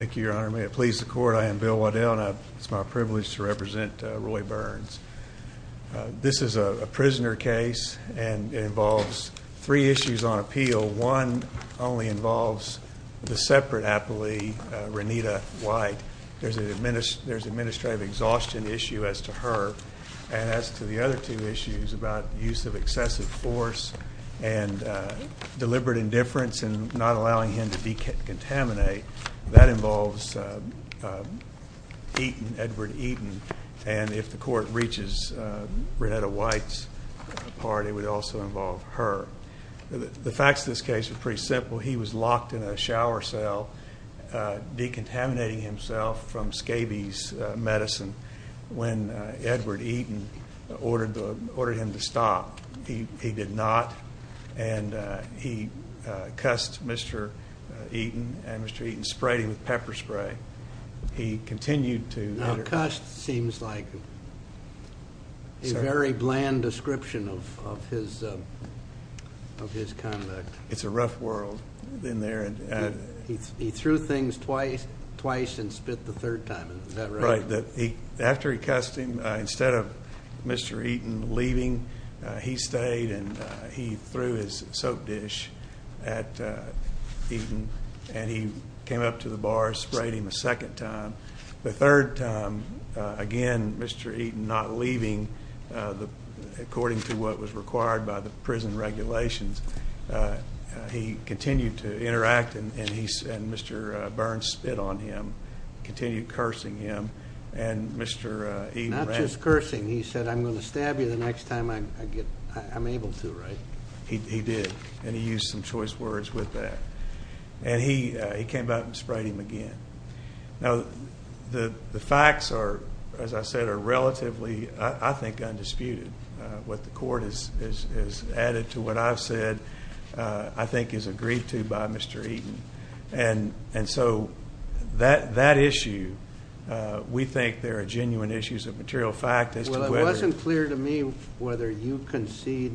Thank you, Your Honor. May it please the Court, I am Bill Waddell and it's my privilege to represent Roy Burns. This is a prisoner case and it involves three issues on appeal. One only involves the separate appellee, Renita White. There's an administrative exhaustion issue as to her and as to the other two issues about use of excessive force and deliberate indifference in not allowing him to decontaminate. That involves Eaton, Edward Eaton. And if the Court reaches Renita White's part, it would also involve her. The facts of this case are pretty simple. He was locked in a shower cell decontaminating himself from scabies medicine when Edward Eaton ordered him to stop. He did not. And he cussed Mr. Eaton and Mr. Eaton sprayed him with pepper spray. He continued to enter. Cuss seems like a very bland description of his conduct. It's a rough world in there. He threw things twice and spit the third time. Is that right? After he cussed him, instead of Mr. Eaton leaving, he stayed and he threw his soap dish at Eaton and he came up to the bar, sprayed him a second time. The third time, again, Mr. Eaton not leaving according to what was required by the prison regulations. He continued to interact and Mr. Burns spit on him, continued cursing him, and Mr. Eaton ran. Not just cursing. He said, I'm going to stab you the next time I'm able to, right? He did, and he used some choice words with that. And he came back and sprayed him again. Now, the facts are, as I said, are relatively, I think, undisputed. What the court has added to what I've said, I think, is agreed to by Mr. Eaton. And so that issue, we think there are genuine issues of material fact as to whether Well, it wasn't clear to me whether you concede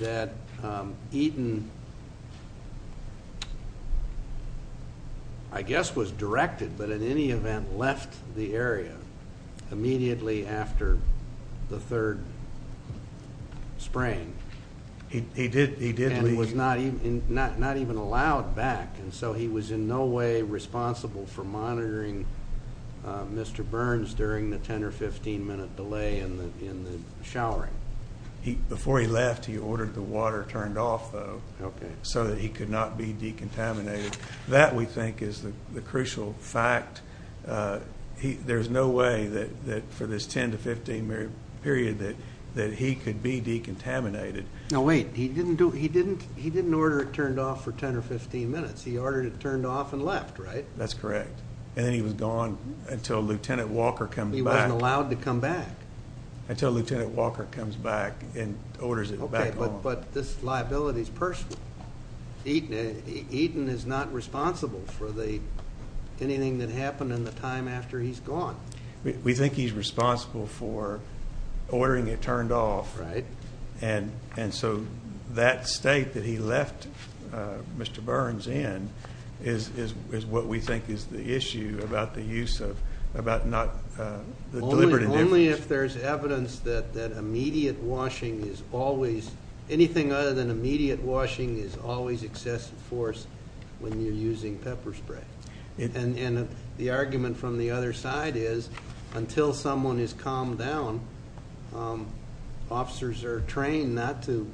that Eaton, I guess, was directed, but in any event left the area immediately after the third spraying. He did leave. And was not even allowed back. And so he was in no way responsible for monitoring Mr. Burns during the 10 or 15 minute delay in the showering. Before he left, he ordered the water turned off, though, so that he could not be decontaminated. That, we think, is the crucial fact. There's no way that for this 10 to 15 minute period that he could be decontaminated. Now, wait, he didn't order it turned off for 10 or 15 minutes. He ordered it turned off and left, right? That's correct. And then he was gone until Lieutenant Walker comes back. He wasn't allowed to come back. Until Lieutenant Walker comes back and orders it back on. Okay, but this liability is personal. Eaton is not responsible for anything that happened in the time after he's gone. We think he's responsible for ordering it turned off. Right. And so that state that he left Mr. Burns in is what we think is the issue about the use of, about not the deliberate indifference. Only if there's evidence that immediate washing is always, anything other than immediate washing is always excessive force when you're using pepper spray. And the argument from the other side is until someone is calmed down, officers are trained not to,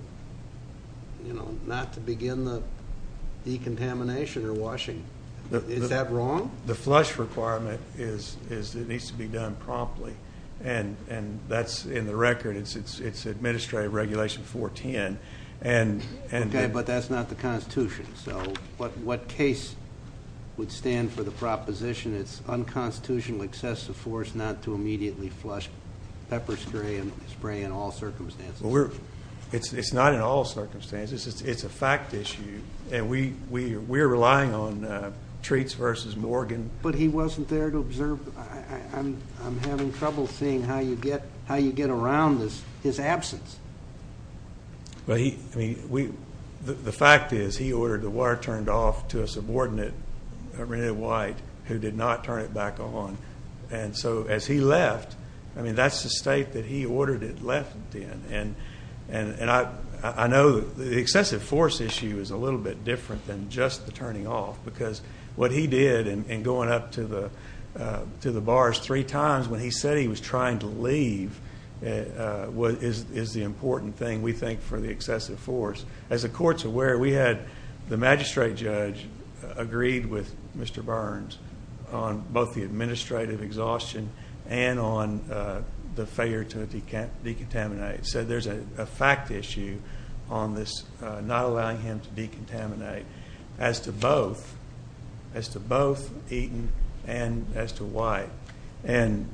you know, not to begin the decontamination or washing. Is that wrong? The flush requirement is it needs to be done promptly. And that's in the record. It's Administrative Regulation 410. Okay, but that's not the Constitution. So what case would stand for the proposition it's unconstitutional excessive force not to immediately flush pepper spray in all circumstances? It's not in all circumstances. It's a fact issue. And we're relying on Treats versus Morgan. But he wasn't there to observe. I'm having trouble seeing how you get around his absence. Well, he, I mean, the fact is he ordered the water turned off to a subordinate, Renee White, who did not turn it back on. And so as he left, I mean, that's the state that he ordered it left in. And I know the excessive force issue is a little bit different than just the turning off, because what he did in going up to the bars three times when he said he was trying to leave is the important thing, we think, for the excessive force. As the court's aware, we had the magistrate judge agreed with Mr. Burns on both the administrative exhaustion and on the failure to decontaminate. So there's a fact issue on this not allowing him to decontaminate as to both Eaton and as to White. And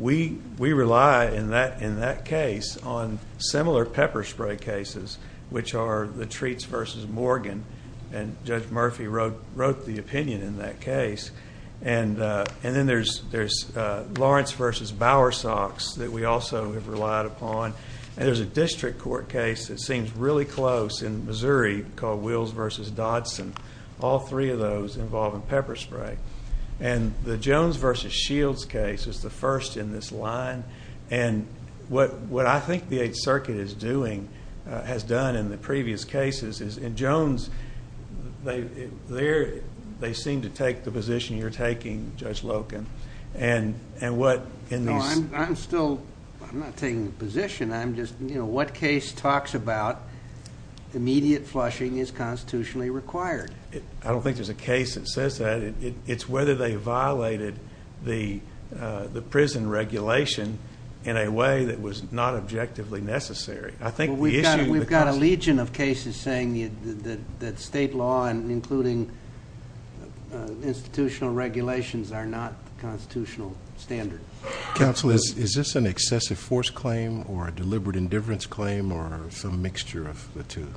we rely in that case on similar pepper spray cases, which are the Treats versus Morgan. And Judge Murphy wrote the opinion in that case. And then there's Lawrence versus Bowersox that we also have relied upon. And there's a district court case that seems really close in Missouri called Wills versus Dodson. All three of those involve pepper spray. And the Jones versus Shields case is the first in this line. And what I think the Eighth Circuit is doing, has done in the previous cases, in Jones they seem to take the position you're taking, Judge Loken, and what in these. No, I'm still not taking the position. I'm just, you know, what case talks about immediate flushing is constitutionally required. I don't think there's a case that says that. It's whether they violated the prison regulation in a way that was not objectively necessary. Well, we've got a legion of cases saying that state law, including institutional regulations, are not the constitutional standard. Counsel, is this an excessive force claim or a deliberate indifference claim or some mixture of the two?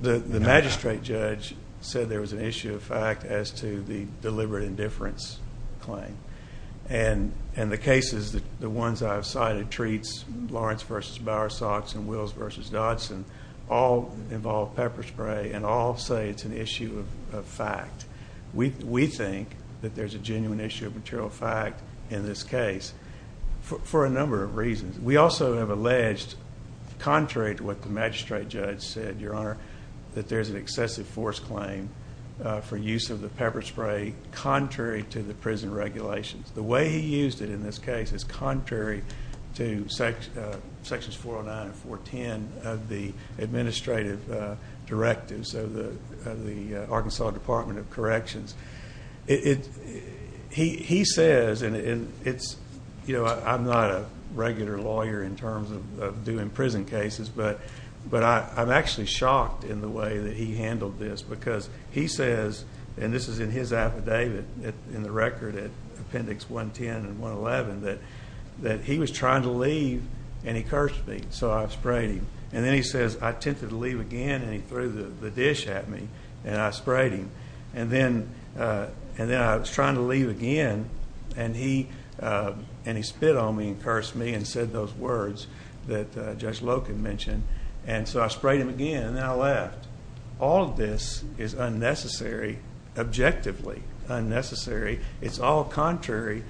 The magistrate judge said there was an issue of fact as to the deliberate indifference claim. And the cases, the ones I've cited, treats Lawrence versus Bowersox and Wills versus Dodson, all involve pepper spray and all say it's an issue of fact. We think that there's a genuine issue of material fact in this case for a number of reasons. We also have alleged, contrary to what the magistrate judge said, Your Honor, that there's an excessive force claim for use of the pepper spray contrary to the prison regulations. The way he used it in this case is contrary to Sections 409 and 410 of the administrative directive, so the Arkansas Department of Corrections. He says, and it's, you know, I'm not a regular lawyer in terms of doing prison cases, but I'm actually shocked in the way that he handled this because he says, and this is in his affidavit in the record at Appendix 110 and 111, that he was trying to leave and he cursed me, so I sprayed him. And then he says, I attempted to leave again and he threw the dish at me and I sprayed him. And then I was trying to leave again and he spit on me and cursed me and said those words that Judge Loken mentioned. And so I sprayed him again and then I left. All of this is unnecessary, objectively unnecessary. It's all contrary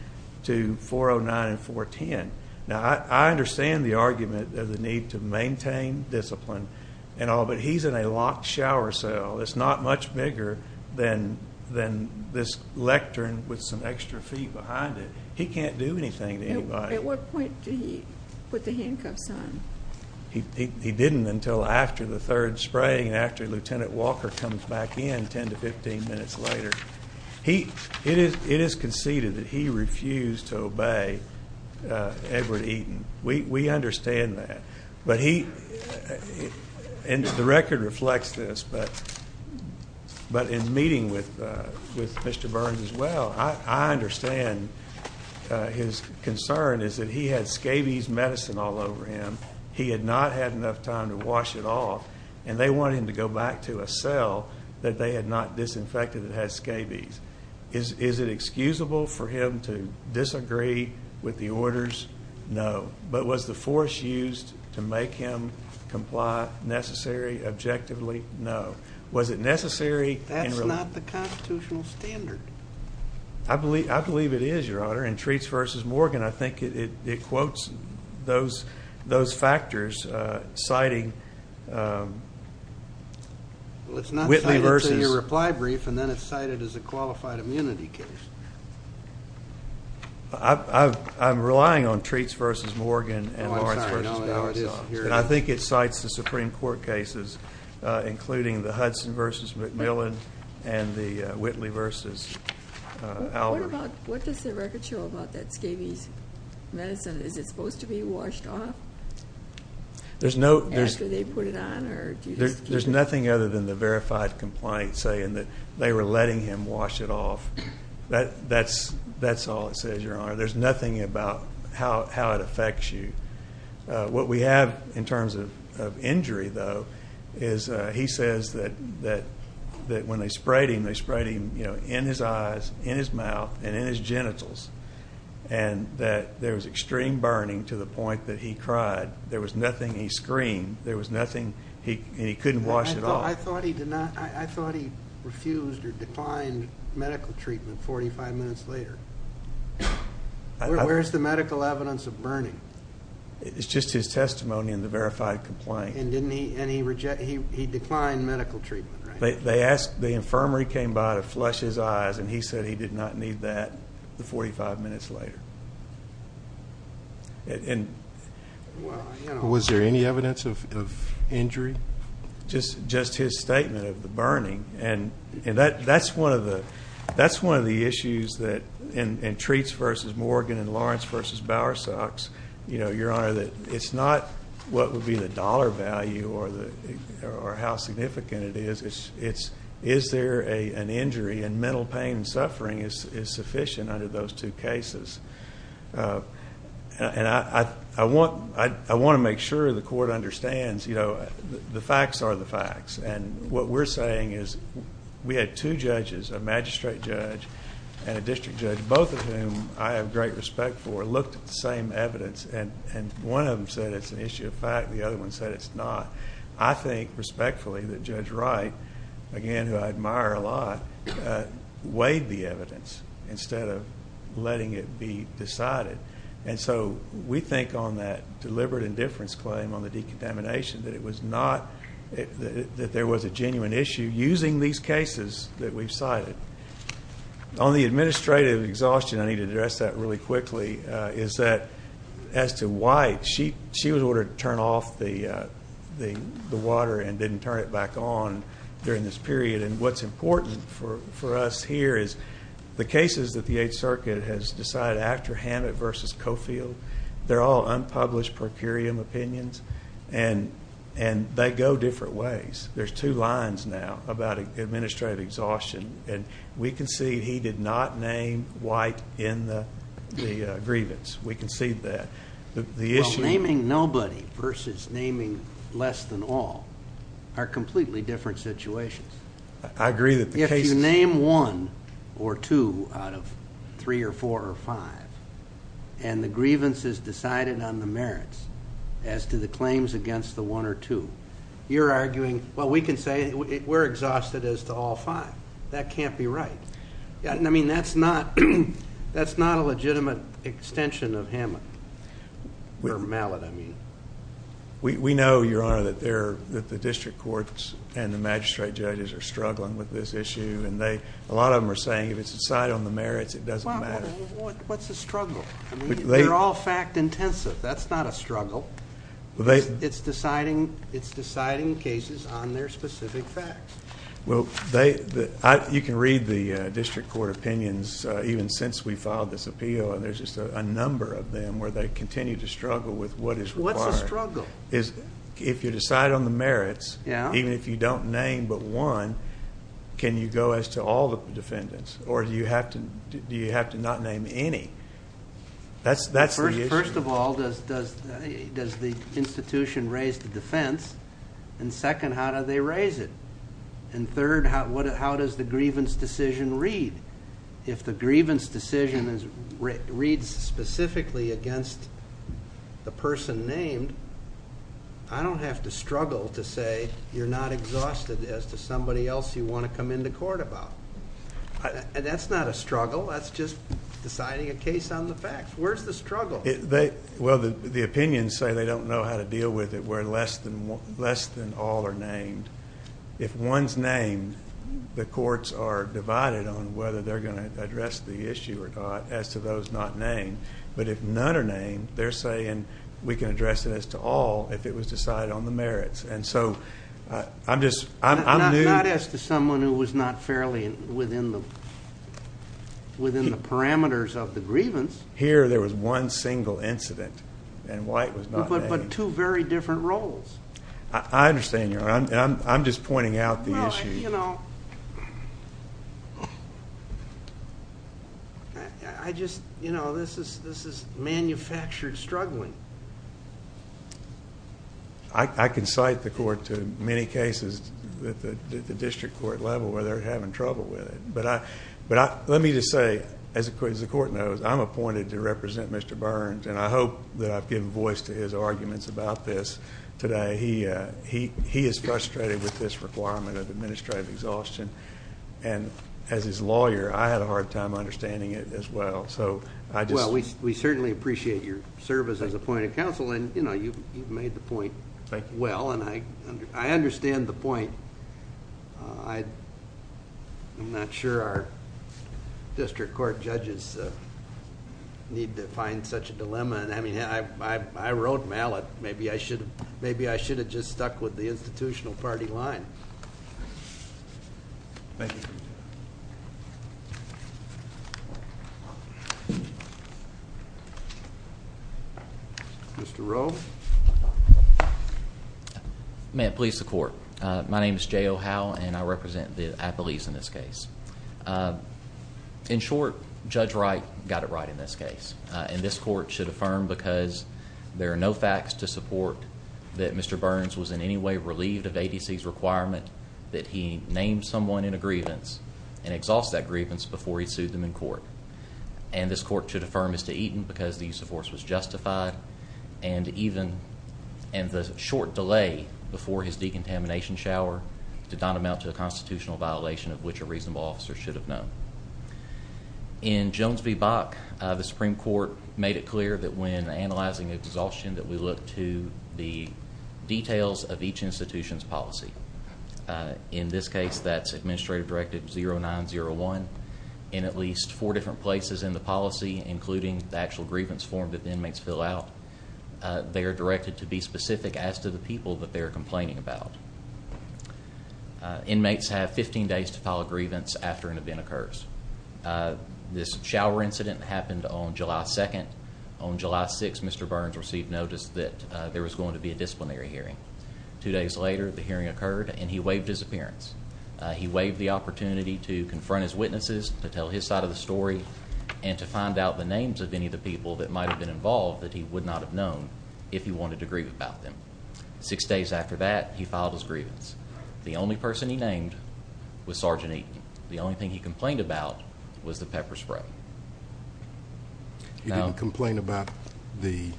to 409 and 410. Now, I understand the argument of the need to maintain discipline and all, but he's in a locked shower cell. It's not much bigger than this lectern with some extra feet behind it. He can't do anything to anybody. At what point did he put the handcuffs on? He didn't until after the third spraying and after Lieutenant Walker comes back in 10 to 15 minutes later. It is conceded that he refused to obey Edward Eaton. We understand that. But he, and the record reflects this, but in meeting with Mr. Burns as well, I understand his concern is that he had scabies medicine all over him. He had not had enough time to wash it off, and they wanted him to go back to a cell that they had not disinfected that had scabies. Is it excusable for him to disagree with the orders? No. But was the force used to make him comply necessary, objectively? No. Was it necessary? That's not the constitutional standard. I believe it is, Your Honor. In Treats v. Morgan, I think it quotes those factors citing Whitley v. Well, it's not cited in your reply brief, and then it's cited as a qualified immunity case. I'm relying on Treats v. Morgan and Lawrence v. Goss. And I think it cites the Supreme Court cases, including the Hudson v. McMillan and the Whitley v. Albert. What does the record show about that scabies medicine? Is it supposed to be washed off after they put it on? There's nothing other than the verified complaint saying that they were letting him wash it off. That's all it says, Your Honor. There's nothing about how it affects you. What we have in terms of injury, though, is he says that when they sprayed him, they sprayed him in his eyes, in his mouth, and in his genitals, and that there was extreme burning to the point that he cried. There was nothing he screamed. There was nothing, and he couldn't wash it off. I thought he refused or declined medical treatment 45 minutes later. Where's the medical evidence of burning? It's just his testimony in the verified complaint. And he declined medical treatment, right? The infirmary came by to flush his eyes, and he said he did not need that 45 minutes later. Was there any evidence of injury? Just his statement of the burning. That's one of the issues in Treats v. Morgan and Lawrence v. Bowersox, Your Honor, that it's not what would be the dollar value or how significant it is. It's is there an injury, and mental pain and suffering is sufficient under those two cases. I want to make sure the Court understands the facts are the facts. What we're saying is we had two judges, a magistrate judge and a district judge, both of whom I have great respect for, looked at the same evidence. One of them said it's an issue of fact. The other one said it's not. I think respectfully that Judge Wright, again, who I admire a lot, weighed the evidence instead of letting it be decided. And so we think on that deliberate indifference claim on the decontamination that it was not, that there was a genuine issue using these cases that we've cited. On the administrative exhaustion, I need to address that really quickly, is that as to why she was ordered to turn off the water and didn't turn it back on during this period. And what's important for us here is the cases that the Eighth Circuit has decided after Hammett v. Coffield, they're all unpublished procurium opinions, and they go different ways. There's two lines now about administrative exhaustion. And we concede he did not name White in the grievance. We concede that. Well, naming nobody versus naming less than all are completely different situations. I agree that the case is. If you name one or two out of three or four or five and the grievance is decided on the merits as to the claims against the one or two, you're arguing, well, we can say we're exhausted as to all five. That can't be right. I mean, that's not a legitimate extension of Hammett or Mallett, I mean. We know, Your Honor, that the district courts and the magistrate judges are struggling with this issue, and a lot of them are saying if it's decided on the merits, it doesn't matter. What's the struggle? They're all fact-intensive. That's not a struggle. It's deciding cases on their specific facts. Well, you can read the district court opinions even since we filed this appeal, and there's just a number of them where they continue to struggle with what is required. What's the struggle? If you decide on the merits, even if you don't name but one, can you go as to all the defendants? Or do you have to not name any? That's the issue. First of all, does the institution raise the defense? And second, how do they raise it? And third, how does the grievance decision read? If the grievance decision reads specifically against the person named, I don't have to struggle to say you're not exhausted as to somebody else you want to come into court about. That's not a struggle. That's just deciding a case on the facts. Where's the struggle? Well, the opinions say they don't know how to deal with it where less than all are named. If one's named, the courts are divided on whether they're going to address the issue or not as to those not named. But if none are named, they're saying we can address it as to all if it was decided on the merits. And so I'm just new. Not as to someone who was not fairly within the parameters of the grievance. Here, there was one single incident, and White was not named. But two very different roles. I understand you. I'm just pointing out the issue. I just, you know, this is manufactured struggling. I can cite the court to many cases at the district court level where they're having trouble with it. But let me just say, as the court knows, I'm appointed to represent Mr. Burns. And I hope that I've given voice to his arguments about this today. He is frustrated with this requirement of administrative exhaustion. And as his lawyer, I had a hard time understanding it as well. Well, we certainly appreciate your service as appointed counsel. And, you know, you've made the point well. And I understand the point. I'm not sure our district court judges need to find such a dilemma. And, I mean, I wrote Mallet. Maybe I should have just stuck with the institutional party line. Thank you. Thank you. Mr. Rowe. May it please the court. My name is Jay O'Howe, and I represent the athletes in this case. In short, Judge Wright got it right in this case. And this court should affirm because there are no facts to support that Mr. Burns was in any way relieved of ABC's requirement that he name someone in a grievance and exhaust that grievance before he sued them in court. And this court should affirm as to Eaton because the use of force was justified and the short delay before his decontamination shower did not amount to a constitutional violation of which a reasonable officer should have known. In Jones v. Bach, the Supreme Court made it clear that when analyzing exhaustion that we look to the details of each institution's policy. In this case, that's Administrative Directive 0901. In at least four different places in the policy, including the actual grievance form that the inmates fill out, they are directed to be specific as to the people that they are complaining about. Inmates have 15 days to file a grievance after an event occurs. This shower incident happened on July 2nd. On July 6th, Mr. Burns received notice that there was going to be a disciplinary hearing. Two days later, the hearing occurred, and he waived his appearance. He waived the opportunity to confront his witnesses, to tell his side of the story, and to find out the names of any of the people that might have been involved that he would not have known if he wanted to grieve about them. Six days after that, he filed his grievance. The only person he named was Sergeant Eaton. The only thing he complained about was the pepper spray. He didn't complain about the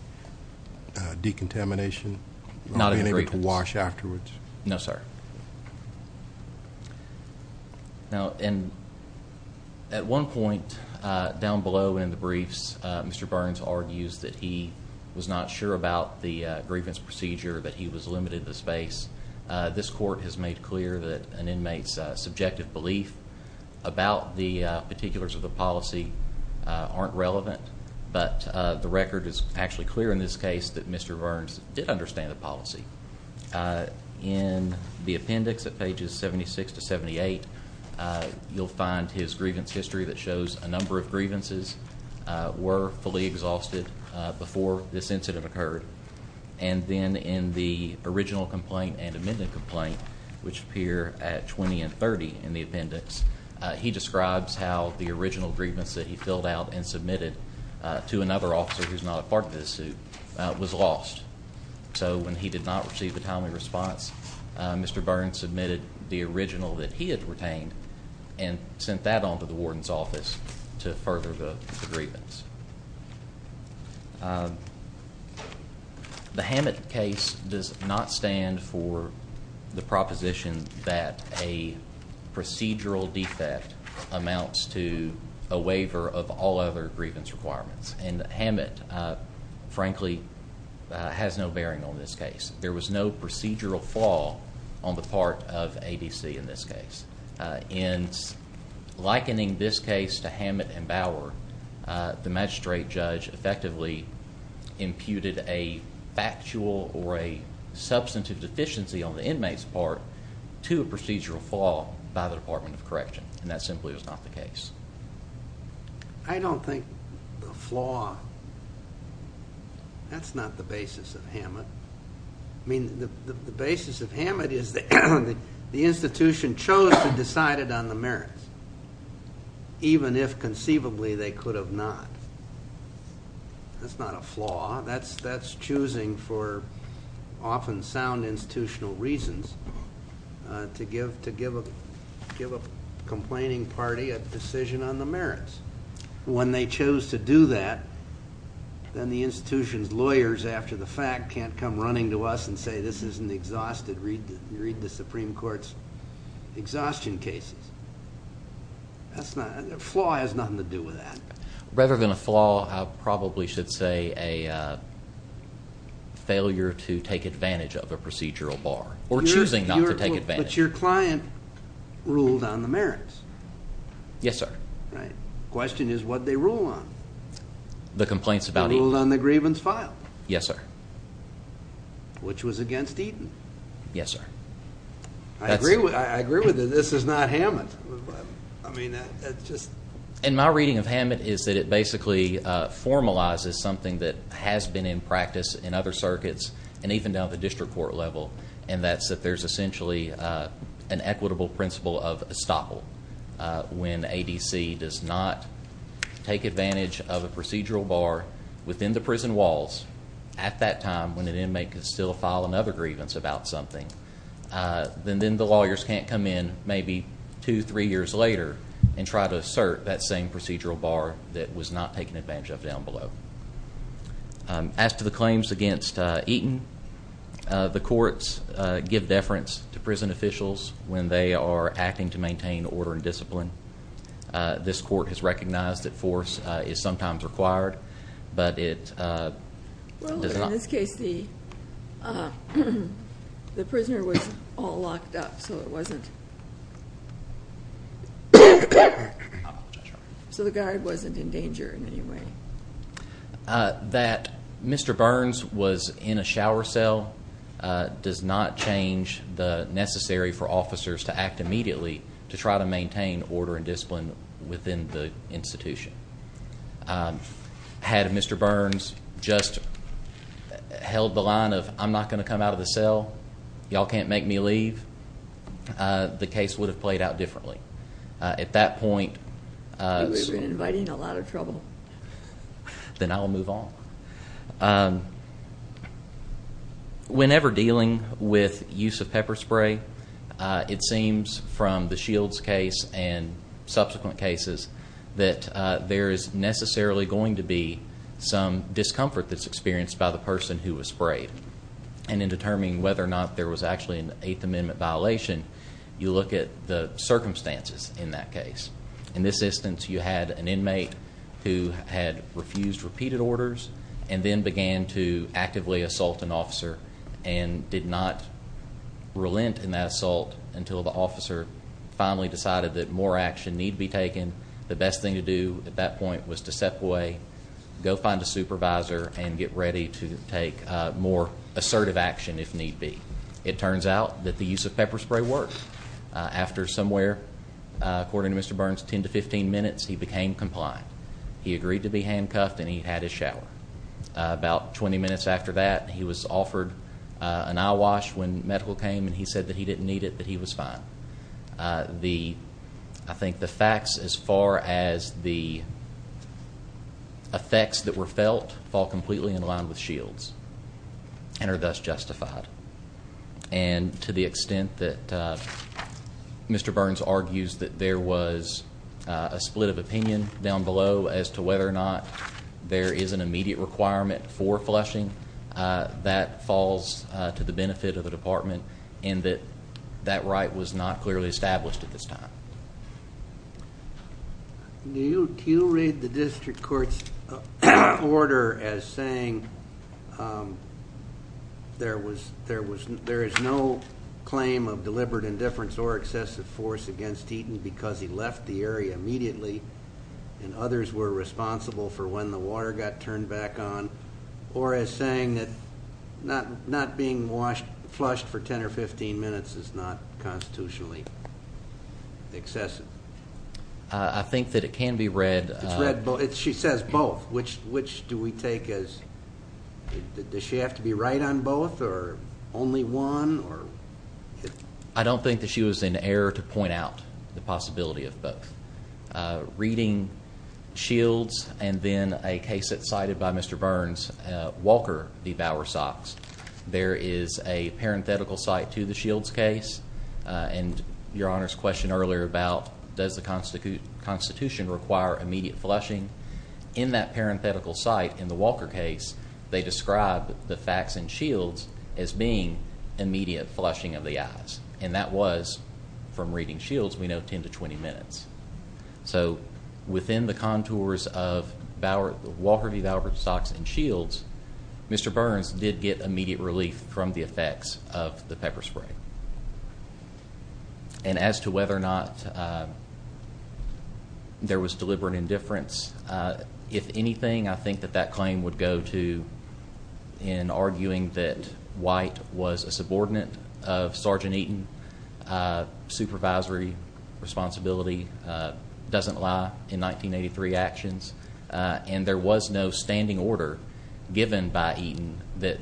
decontamination or being able to wash afterwards? No, sir. At one point down below in the briefs, Mr. Burns argues that he was not sure about the grievance procedure, that he was limited to the space. This court has made clear that an inmate's subjective belief about the particulars of the policy aren't relevant, but the record is actually clear in this case that Mr. Burns did understand the policy. In the appendix at pages 76 to 78, you'll find his grievance history that shows a number of grievances were fully exhausted before this incident occurred. And then in the original complaint and amended complaint, which appear at 20 and 30 in the appendix, he describes how the original grievance that he filled out and submitted to another officer who's not a part of this suit was lost. So when he did not receive a timely response, Mr. Burns submitted the original that he had retained and sent that on to the warden's office to further the grievance. The Hammett case does not stand for the proposition that a procedural defect amounts to a waiver of all other grievance requirements. And Hammett, frankly, has no bearing on this case. There was no procedural flaw on the part of ADC in this case. In likening this case to Hammett and Bower, the magistrate judge effectively imputed a factual or a substantive deficiency on the inmate's part to a procedural flaw by the Department of Correction, and that simply was not the case. I don't think the flaw, that's not the basis of Hammett. I mean, the basis of Hammett is that the institution chose to decide it on the merits, even if conceivably they could have not. That's not a flaw. That's choosing for often sound institutional reasons to give a complaining party a decision on the merits. When they chose to do that, then the institution's lawyers after the fact can't come running to us and say, this is an exhausted, read the Supreme Court's exhaustion cases. That's not, a flaw has nothing to do with that. Rather than a flaw, I probably should say a failure to take advantage of a procedural bar or choosing not to take advantage. But your client ruled on the merits. Yes, sir. Right. The question is, what did they rule on? The complaints about Eden. They ruled on the grievance filed. Yes, sir. Which was against Eden. Yes, sir. I agree with it. This is not Hammett. I mean, that's just... And my reading of Hammett is that it basically formalizes something that has been in practice in other circuits and even down at the district court level, and that's that there's essentially an equitable principle of estoppel when ADC does not take advantage of a procedural bar within the prison walls at that time when an inmate could still file another grievance about something. Then the lawyers can't come in maybe two, three years later and try to assert that same procedural bar that was not taken advantage of down below. As to the claims against Eden, the courts give deference to prison officials when they are acting to maintain order and discipline. This court has recognized that force is sometimes required, but it does not... Well, in this case, the prisoner was all locked up, so it wasn't... I apologize. So the guard wasn't in danger in any way. That Mr. Burns was in a shower cell does not change the necessary for officers to act immediately to try to maintain order and discipline within the institution. Had Mr. Burns just held the line of, I'm not going to come out of the cell, y'all can't make me leave, the case would have played out differently. At that point... Then I'll move on. Whenever dealing with use of pepper spray, it seems from the Shields case and subsequent cases that there is necessarily going to be some discomfort that's experienced by the person who was sprayed. And in determining whether or not there was actually an Eighth Amendment violation, you look at the circumstances in that case. In this instance, you had an inmate who had refused repeated orders and then began to actively assault an officer and did not relent in that assault until the officer finally decided that more action need be taken. The best thing to do at that point was to step away, go find a supervisor, and get ready to take more assertive action if need be. It turns out that the use of pepper spray worked. After somewhere, according to Mr. Burns, 10 to 15 minutes, he became compliant. He agreed to be handcuffed and he had his shower. About 20 minutes after that, he was offered an eye wash when medical came and he said that he didn't need it, that he was fine. I think the facts as far as the effects that were felt fall completely in line with Shields and are thus justified. And to the extent that Mr. Burns argues that there was a split of opinion down below as to whether or not there is an immediate requirement for flushing, that falls to the benefit of the department and that that right was not clearly established at this time. Do you read the district court's order as saying there is no claim of deliberate indifference or excessive force against Eaton because he left the area immediately and others were responsible for when the water got turned back on, or as saying that not being flushed for 10 or 15 minutes is not constitutionally excessive? I think that it can be read. She says both. Which do we take as, does she have to be right on both or only one? I don't think that she was in error to point out the possibility of both. Reading Shields and then a case that's cited by Mr. Burns, Walker devour socks. There is a parenthetical site to the Shields case and Your Honor's question earlier about does the Constitution require immediate flushing. In that parenthetical site in the Walker case, they describe the facts in Shields as being immediate flushing of the eyes. And that was from reading Shields, we know 10 to 20 minutes. So within the contours of Walker devoured socks and Shields, Mr. Burns did get immediate relief from the effects of the pepper spray. And as to whether or not there was deliberate indifference, if anything I think that that claim would go to in arguing that White was a subordinate of Sergeant Eaton, supervisory responsibility doesn't lie in 1983 actions, and there was no standing order given by Eaton that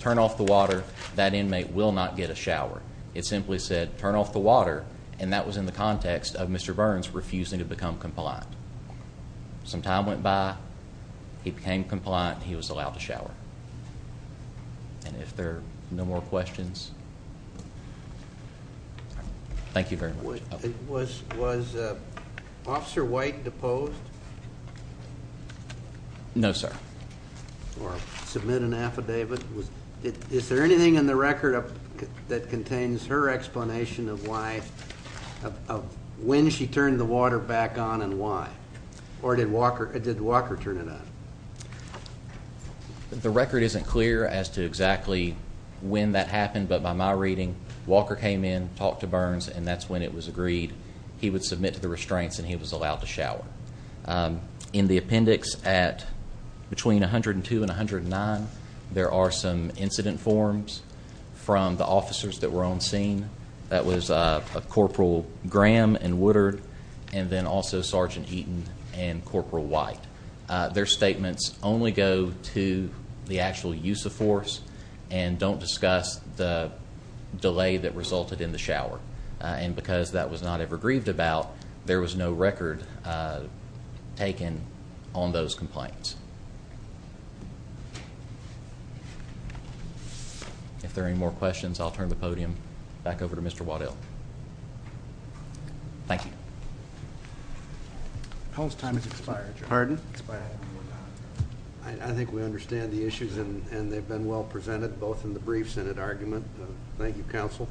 turn off the water, that inmate will not get a shower. It simply said turn off the water, and that was in the context of Mr. Burns refusing to become compliant. Some time went by, he became compliant, he was allowed to shower. And if there are no more questions, thank you very much. Was Officer White deposed? No, sir. Or submit an affidavit? Is there anything in the record that contains her explanation of why, of when she turned the water back on and why? Or did Walker turn it on? The record isn't clear as to exactly when that happened, but by my reading, Walker came in, talked to Burns, and that's when it was agreed he would submit to the restraints and he was allowed to shower. In the appendix at between 102 and 109, there are some incident forms from the officers that were on scene. That was Corporal Graham and Woodard, and then also Sergeant Eaton and Corporal White. Their statements only go to the actual use of force and don't discuss the delay that resulted in the shower. And because that was not ever grieved about, there was no record taken on those complaints. If there are any more questions, I'll turn the podium back over to Mr. Waddell. Thank you. Tom's time has expired. Pardon? Expired. I think we understand the issues, and they've been well presented, both in the brief Senate argument. Thank you, Counsel.